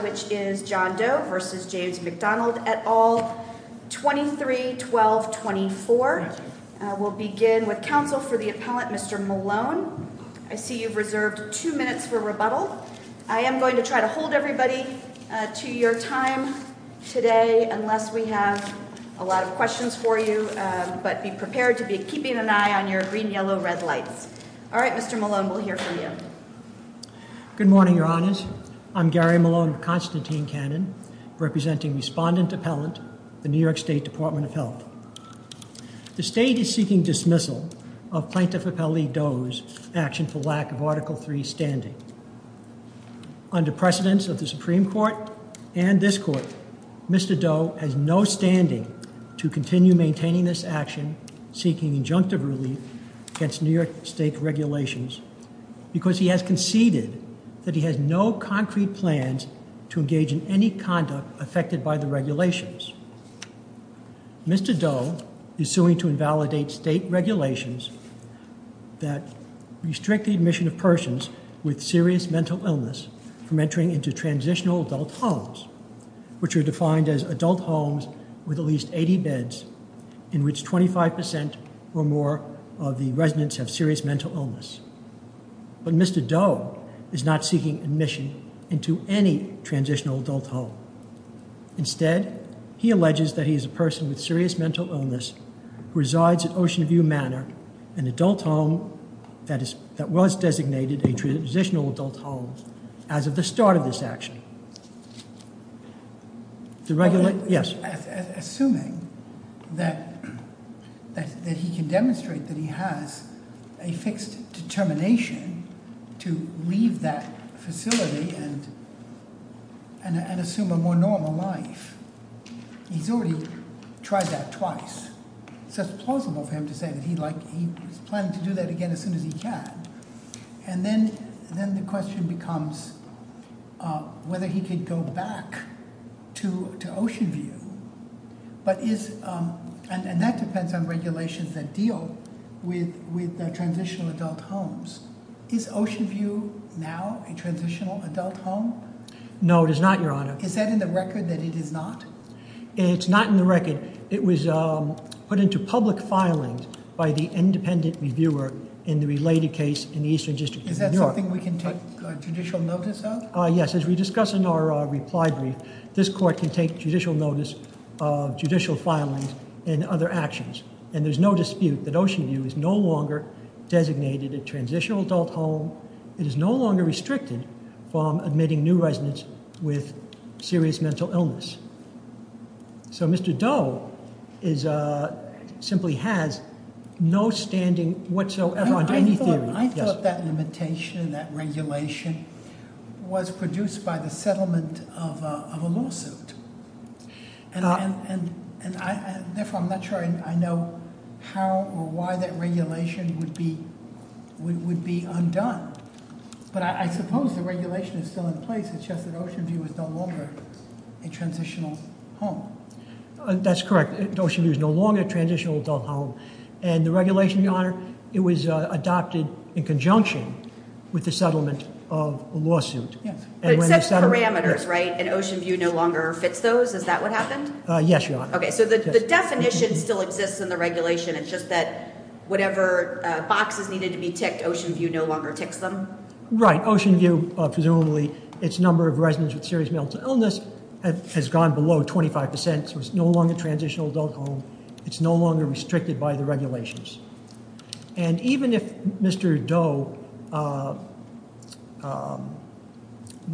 v. John Doe v. James McDonald, et al., 23-12-24. We'll begin with counsel for the appellant, Mr. Malone. I see you've reserved two minutes for rebuttal. I am going to try to hold everybody to your time today unless we have a lot of questions for you, but be prepared to be keeping an eye on your green, yellow, red lights. All right, Mr. Malone, we'll hear from you. Good morning, Your Honors. I'm Gary Malone of Constantine Cannon, representing Respondent Appellant, the New York State Department of Health. The state is seeking dismissal of Plaintiff Appellee Doe's action for lack of Article III standing. Under precedence of the Supreme Court and this Court, Mr. Doe has no standing to continue maintaining this action seeking injunctive relief against New York state regulations because he has conceded that he has no concrete plans to engage in any conduct affected by the regulations. Mr. Doe is suing to invalidate state regulations that restrict the admission of persons with serious mental illness from entering into transitional adult homes, which are defined as adult homes with at least 80 beds in which 25 percent or more of the residents have serious mental illness. But Mr. Doe is not seeking admission into any transitional adult home. Instead, he alleges that he is a person with serious mental illness who resides at Ocean View Manor, an adult home that was designated a transitional adult home as of the start of this action. Assuming that he can demonstrate that he has a fixed determination to leave that facility and assume a more normal life. He's already tried that twice, so it's plausible for him to say that he's planning to do that again as soon as he can. And then the question becomes whether he could go back to Ocean View. But that depends on regulations that deal with transitional adult homes. Is Ocean View now a transitional adult home? No, it is not, Your Honor. Is that in the record that it is not? It's not in the record. It was put into public filings by the independent reviewer in the related case in the Eastern District of New York. Is that something we can take judicial notice of? Yes, as we discuss in our reply brief, this court can take judicial notice of judicial filings and other actions. And there's no dispute that Ocean View is no longer designated a transitional adult home. It is no longer restricted from admitting new residents with serious mental illness. So Mr. Doe simply has no standing whatsoever on any theory. I thought that limitation, that regulation, was produced by the settlement of a lawsuit. And therefore, I'm not sure I know how or why that regulation would be undone. But I suppose the regulation is still in place. It suggests that Ocean View is no longer a transitional home. That's correct. Ocean View is no longer a transitional adult home. And the regulation, Your Honor, it was adopted in conjunction with the settlement of a lawsuit. But it sets parameters, right? And Ocean View no longer fits those? Is that what happened? Yes, Your Honor. Okay, so the definition still exists in the regulation. It's just that whatever boxes needed to be ticked, Ocean View no longer ticks them? Right. Ocean View, presumably, its number of residents with serious mental illness has gone below 25%. So it's no longer transitional adult home. It's no longer restricted by the regulations. And even if Mr. Doe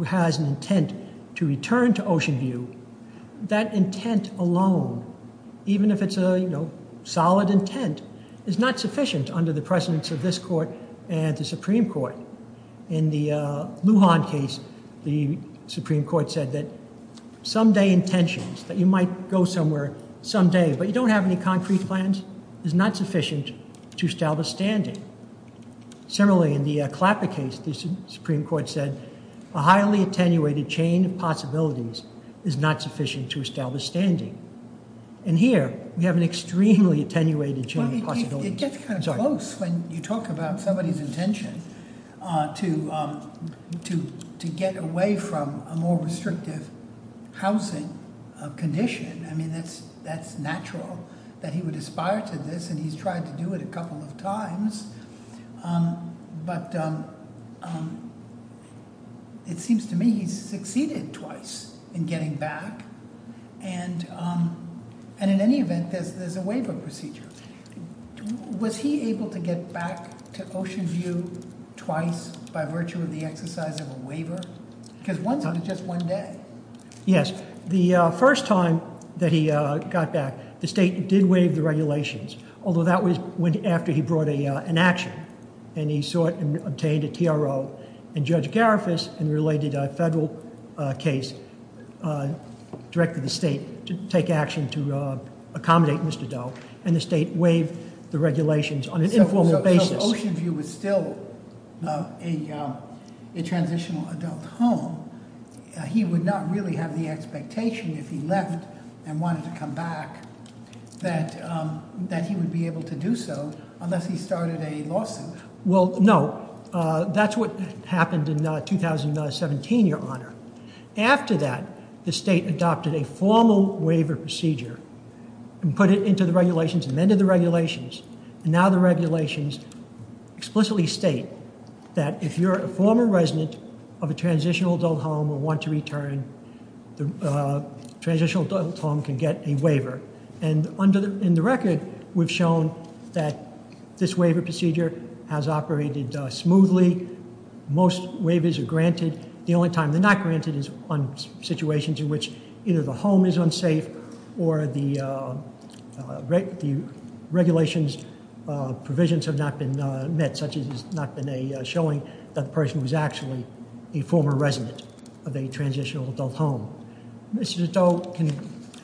has an intent to return to Ocean View, that intent alone, even if it's a solid intent, is not sufficient under the precedence of this Court and the Supreme Court. In the Lujan case, the Supreme Court said that someday intentions, that you might go somewhere someday, but you don't have any concrete plans, is not sufficient to establish standing. Similarly, in the Clapper case, the Supreme Court said a highly attenuated chain of possibilities is not sufficient to establish standing. And here, we have an extremely attenuated chain of possibilities. Well, it gets kind of close when you talk about somebody's intention to get away from a more restrictive housing condition. I mean, that's natural that he would aspire to this, and he's to do it a couple of times, but it seems to me he's succeeded twice in getting back. And in any event, there's a waiver procedure. Was he able to get back to Ocean View twice by virtue of the exercise of a waiver? Because one's only just one day. Yes. The first time that he got back, the state did waive the regulations, although that was after he brought an action, and he sought and obtained a TRO. And Judge Garifas, in the related federal case, directed the state to take action to accommodate Mr. Doe, and the state waived the regulations on an informal basis. So Ocean View was still a transitional adult home. He would not really have the expectation if he left and wanted to come back that he would be able to do so unless he started a lawsuit. Well, no. That's what happened in 2017, Your Honor. After that, the state adopted a formal waiver procedure and put it into the regulations, amended the regulations, and now the regulations explicitly state that if you're a former resident of a transitional adult home or want to return the transitional adult home can get a waiver. And in the record, we've shown that this waiver procedure has operated smoothly. Most waivers are granted. The only time they're not granted is on situations in which either the home is unsafe or the regulations provisions have not been met, such as there's not been a showing that the person was actually a former resident of a transitional adult home. Mr. Doe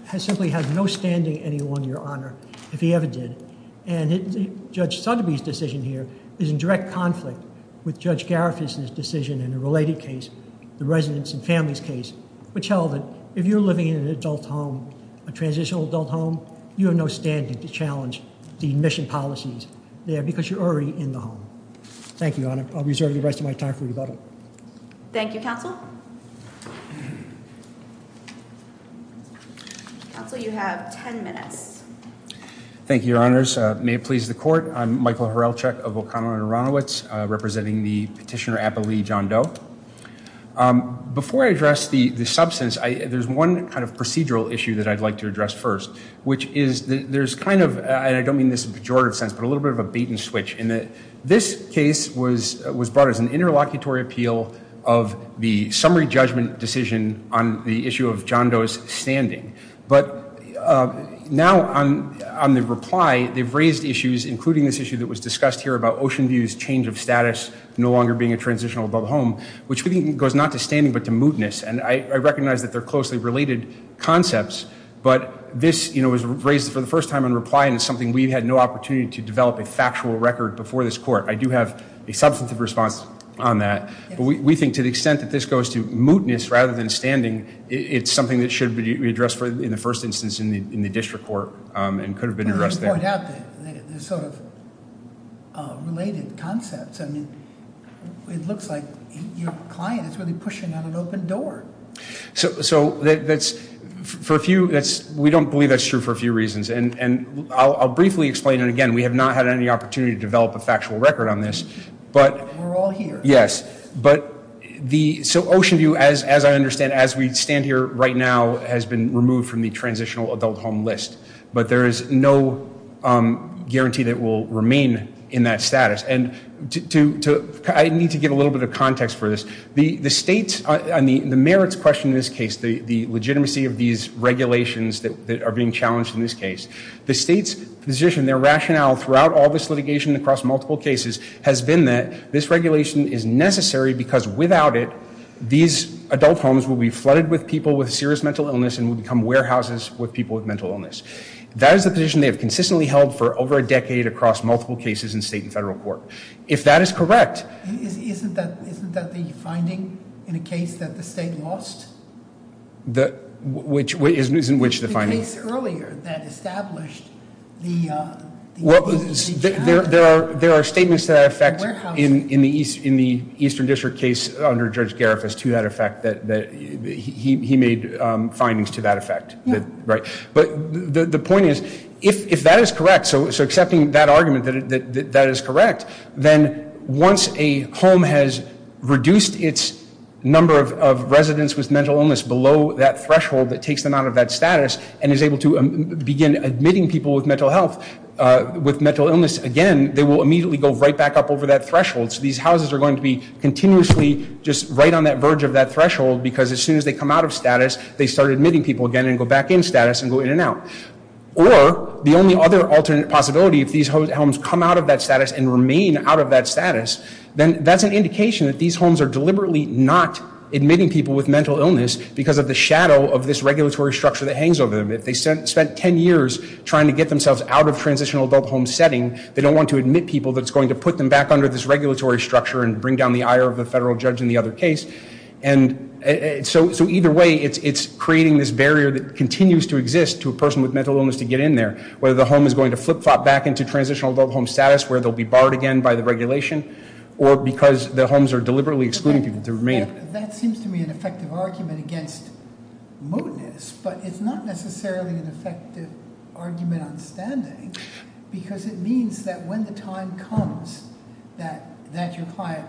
has simply had no standing any longer, Your Honor, if he ever did. And Judge Sotheby's decision here is in direct conflict with Judge Garifuss's decision in a related case, the residents and families case, which held that if you're living in an adult home, a transitional adult home, you have no standing to challenge the admission policies there because you're already in the home. Thank you, Your Honor. I'll reserve the time for rebuttal. Thank you, Counsel. Counsel, you have 10 minutes. Thank you, Your Honors. May it please the Court. I'm Michael Horelchuk of O'Connell and Aronowitz, representing the petitioner, Appa Lee John Doe. Before I address the substance, there's one kind of procedural issue that I'd like to address first, which is there's kind of, and I don't mean this in a bait-and-switch, in that this case was brought as an interlocutory appeal of the summary judgment decision on the issue of John Doe's standing. But now on the reply, they've raised issues, including this issue that was discussed here about Oceanview's change of status, no longer being a transitional adult home, which I think goes not to standing, but to mootness. And I recognize that they're closely related concepts, but this, you know, was raised for the first time in reply, and it's something we've had no opportunity to develop a factual record before this Court. I do have a substantive response on that, but we think to the extent that this goes to mootness rather than standing, it's something that should be addressed in the first instance in the district court, and could have been addressed there. There's sort of related concepts. I mean, it looks like your client is really pushing on an open door. So that's, for a few, that's, we I'll briefly explain, and again, we have not had any opportunity to develop a factual record on this, but we're all here. Yes, but the, so Oceanview, as I understand, as we stand here right now, has been removed from the transitional adult home list, but there is no guarantee that will remain in that status. And to, I need to get a little bit of context for this. The state, on the merits question in this case, the legitimacy of these regulations that are being challenged in this case, the state's position, their rationale throughout all this litigation across multiple cases, has been that this regulation is necessary because without it, these adult homes will be flooded with people with serious mental illness and will become warehouses with people with mental illness. That is the position they have consistently held for over a decade across multiple cases in state and federal court. If that is correct... Isn't that the finding in a case that the state lost? The, which, isn't which the finding? The case earlier that established the, well, there are, there are statements to that effect in, in the East, in the Eastern District case under Judge Garifas to that effect that, that he, he made findings to that effect, right? But the, the point is, if, if that is correct, so, so accepting that argument that, that is correct, then once a home has reduced its number of, of residents with mental illness below that threshold that takes them out of that status and is able to begin admitting people with mental health, with mental illness again, they will immediately go right back up over that threshold. So these houses are going to be continuously just right on that verge of that threshold because as soon as they come out of status, they start admitting people again and go back in status and go in and out. Or the only other alternate possibility, if these homes come out of that status and remain out of that status, then that's an indication that these homes are deliberately not admitting people with mental illness because of the shadow of this regulatory structure that hangs over them. If they spent 10 years trying to get themselves out of transitional adult home setting, they don't want to admit people that's going to put them back under this regulatory structure and bring down the ire of the federal judge in the other case. And so, so either way, it's, it's creating this barrier that continues to exist to a person with mental illness to get in there. Whether the home is going to flip-flop back into transitional adult home status where they'll be barred again by the regulation or because the homes are deliberately excluding people to remain. That seems to me an effective argument against mootness, but it's not necessarily an effective argument on standing because it means that when the time comes that, that your client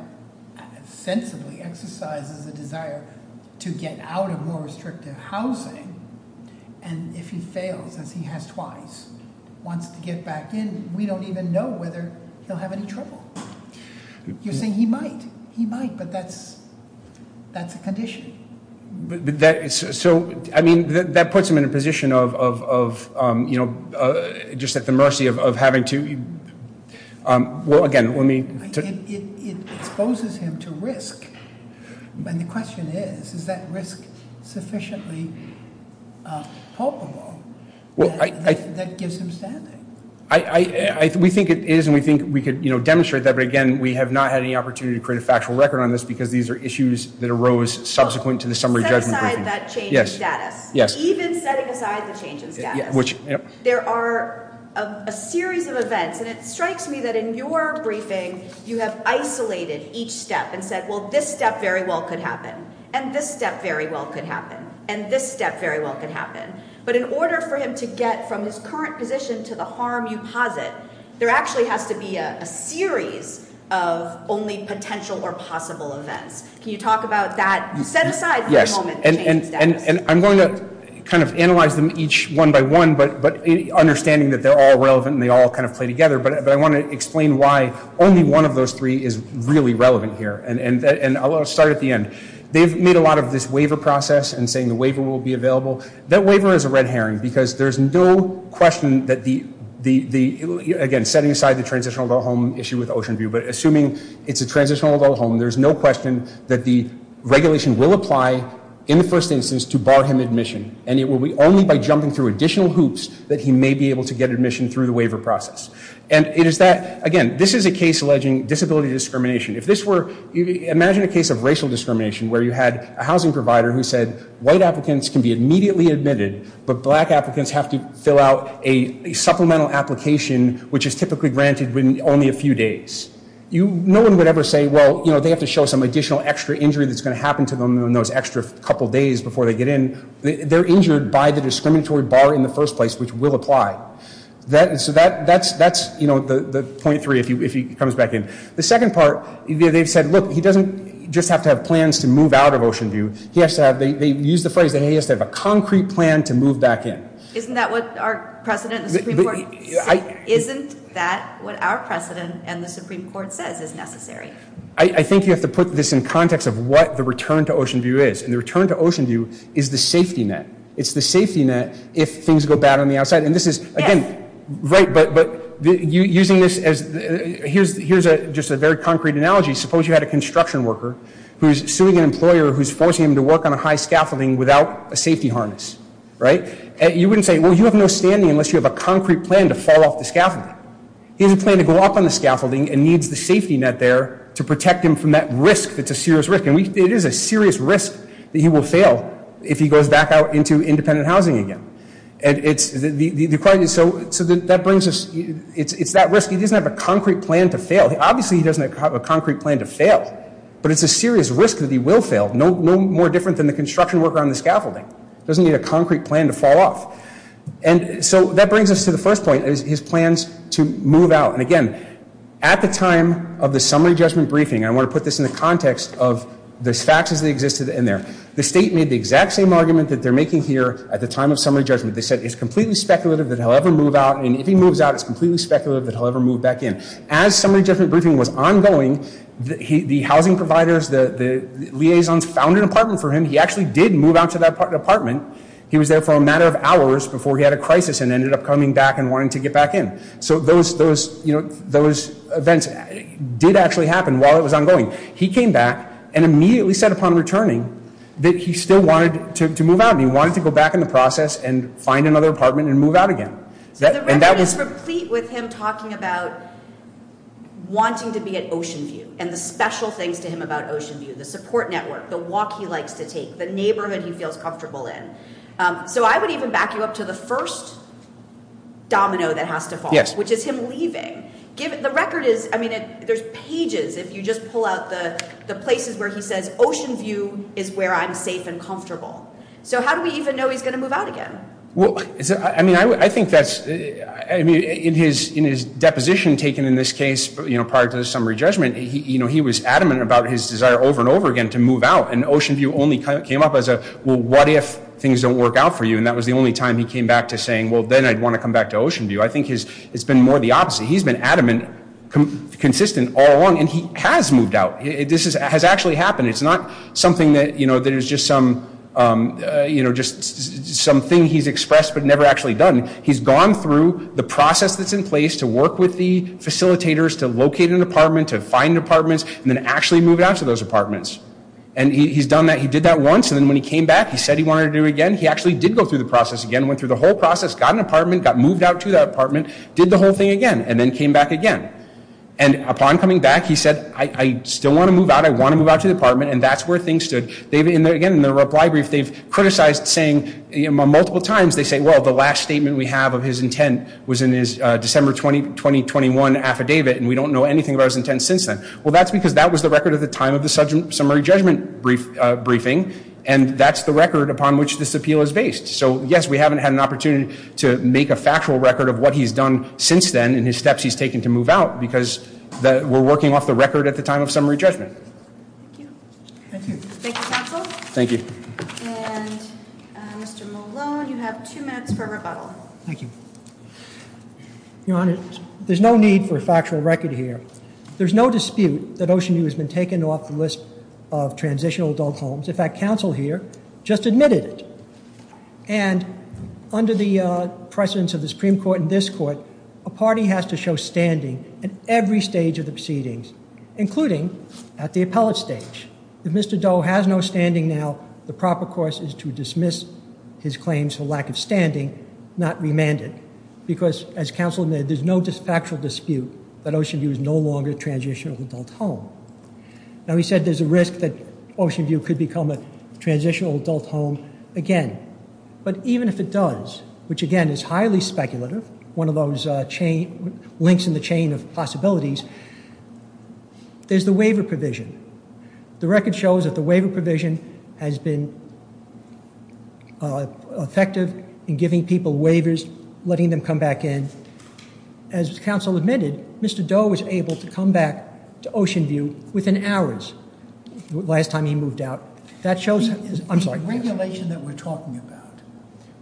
sensibly exercises a desire to get out of more restrictive housing and if he fails, as he has twice, wants to get back in, we don't even know whether he'll have any trouble. You're saying he might, he might, but that's, that's a condition. But that, so, I mean, that puts him in a position of, of, of, you know, just at the mercy of, of having to, well again, let me. It exposes him to risk. And the question is, is that risk sufficiently palpable that gives him standing? I, I, we think it is and we think we could, you know, demonstrate that. But again, we have not had any opportunity to create a factual record on this because these are issues that arose subsequent to the summary judgment. Set aside that change in status. Yes, yes. Even setting aside the change in status. Which, yep. There are a series of events and it strikes me that in your briefing you have isolated each step and said, well, this step very well could happen, and this step very well could happen, and this step very well could happen. But in order for him to get from his current position to the harm you posit, there actually has to be a series of only potential or possible events. Can you talk about that? You set aside that moment. Yes, and, and, and I'm going to kind of analyze them each one by one, but, but understanding that they're all relevant and they all kind of play together, but I want to explain why only one of those three is really relevant here. And, and, and I'll start at the end. They've made a lot of this waiver process and saying the waiver will be available. That waiver is a red herring because there's no question that the, the, the, again, setting aside the transitional adult home issue with Oceanview, but assuming it's a transitional adult home, there's no question that the regulation will apply in the first instance to bar him admission. And it will be only by jumping through additional hoops that he may be able to get admission through the waiver process. And it is that, again, this is a case alleging disability discrimination. If this were, imagine a case of racial discrimination where you had a housing provider who said white applicants can be immediately admitted, but black applicants have to fill out a supplemental application, which is typically granted within only a few days. You, no one would ever say, well, you know, they have to show some additional extra injury that's going to happen to them in those extra couple days before they get in. They're injured by the discriminatory bar in the first place, which will apply. That, and so that, that's, that's, you know, the, the point three, if you, if he comes back in. The second part, you know, they've said, look, he doesn't just have to have plans to move out of Oceanview. He has to have, they, they use the phrase that he has to have a concrete plan to move back in. Isn't that what our precedent, the Supreme Court, isn't that what our precedent and the Supreme Court says is necessary? I, I think you have to put this in context of what the return to Oceanview is. And the return to Oceanview is the safety net. It's the safety net if things go bad on the outside. And this is again, right, but, but using this as, here's, here's a, just a very concrete analogy. Suppose you had a construction worker who's suing an employer who's forcing him to work on a high scaffolding without a safety harness, right? And you wouldn't say, well, you have no standing unless you have a concrete plan to fall off the scaffolding. He has a plan to go up on the scaffolding and needs the safety net there to protect him from that risk that's a serious risk. And we, it is a serious risk that he will fail if he goes back out into independent housing again. And it's, the, the, so, so that brings us, it's, it's that risk. He doesn't have a concrete plan to fail. Obviously he doesn't have a concrete plan to fail. But it's a serious risk that he will fail. No, no more different than the construction worker on the scaffolding. Doesn't need a concrete plan to fall off. And so that brings us to the first point is his plans to move out. And again, at the time of the summary judgment briefing, I want to put this in the context of the facts as they existed in there, the state made the exact same argument that they're making here at the time of summary judgment. They said it's completely speculative that he'll ever move out. And if he moves out, it's completely speculative that he'll ever move back in. As summary judgment briefing was ongoing, the housing providers, the liaisons found an apartment for him. He actually did move out to that apartment. He was there for a matter of hours before he had a crisis and ended up coming back wanting to get back in. So those events did actually happen while it was ongoing. He came back and immediately said upon returning that he still wanted to move out. He wanted to go back in the process and find another apartment and move out again. So the record is complete with him talking about wanting to be at Oceanview and the special things to him about Oceanview, the support network, the walk he likes to take, the neighborhood he feels comfortable in. So I would even back you up to the first domino that has to fall, which is him leaving. The record is, I mean, there's pages. If you just pull out the places where he says Oceanview is where I'm safe and comfortable. So how do we even know he's going to move out again? Well, I mean, I think that's, I mean, in his deposition taken in this case prior to the summary judgment, he was adamant about his desire over and over again to move out. And Oceanview only came up as a, well, what if things don't work out for you? And that was the only time he came back to saying, well, then I'd want to come back to Oceanview. I think it's been more the opposite. He's been adamant, consistent all along, and he has moved out. This has actually happened. It's not something that, you know, there's just some, you know, just something he's expressed but never actually done. He's gone through the process that's in place to work with the facilitators to locate an apartment, to find apartments, and then actually moved out to those apartments. And he's done that. He did that once. And then when he came back, he said he wanted to do it again. He actually did go through the process again, went through the whole process, got an apartment, got moved out to that apartment, did the whole thing again, and then came back again. And upon coming back, he said, I still want to move out. I want to move out to the apartment. And that's where things stood. They've, again, in the reply brief, they've criticized saying multiple times, they say, well, the last statement we have of his intent was in his December 2021 affidavit, and we don't know anything about his intent since then. Well, that's because that was the record at the time of the summary judgment briefing, and that's the record upon which this appeal is based. So, yes, we haven't had an opportunity to make a factual record of what he's done since then and his steps he's taken to move out because we're working off the record at the time of summary judgment. Thank you. Thank you, counsel. Thank you. And Mr. Malone, you have two minutes for rebuttal. Thank you. Your Honor, there's no need for a factual record here. There's no dispute that Oceanview has been taken off the list of transitional adult homes. In fact, counsel here just admitted it. And under the precedence of the Supreme Court and this Court, a party has to show standing at every stage of the proceedings, including at the appellate stage. If Mr. Doe has no standing now, the proper course is to dismiss his claims for lack of standing, not remand it, because as counsel admitted, there's no factual dispute that Oceanview is no longer a transitional adult home. Now, he said there's a risk that Oceanview could become a transitional adult home again. But even if it does, which again is highly speculative, one of those links in the chain of possibilities, there's the waiver provision. The record shows that the waiver provision has been effective in giving people waivers, letting them come back in. As counsel admitted, Mr. Doe was able to come back to Oceanview within hours the last time he moved out. That shows... The regulation that we're talking about,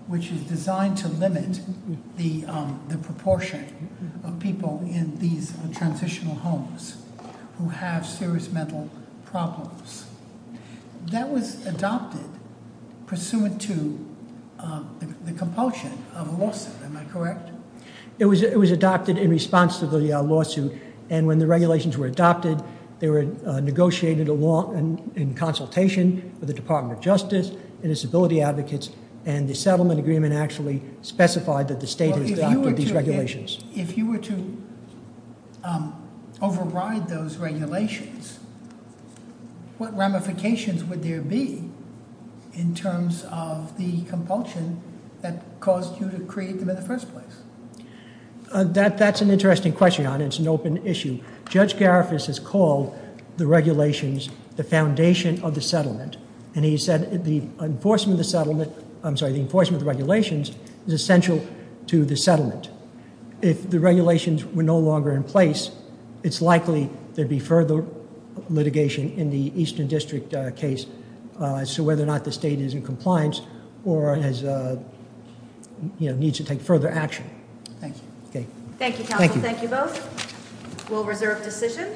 which is designed to limit the proportion of people in these transitional homes who have serious mental problems, that was adopted pursuant to the compulsion of a lawsuit, am I correct? It was adopted in response to the lawsuit, and when the regulations were adopted, they were negotiated in consultation with the Department of Justice, and disability advocates, and the settlement agreement actually specified that the regulations... If you were to override those regulations, what ramifications would there be in terms of the compulsion that caused you to create them in the first place? That's an interesting question, and it's an open issue. Judge Garifas has called the regulations the foundation of the settlement, and he said the enforcement of the settlement, I'm sorry, the enforcement of the regulations is essential to the settlement. If the regulations were no longer in place, it's likely there'd be further litigation in the Eastern District case as to whether or not the state is in compliance or needs to take further action. Thank you. Okay. Thank you, counsel. Thank you both. We'll reserve decision.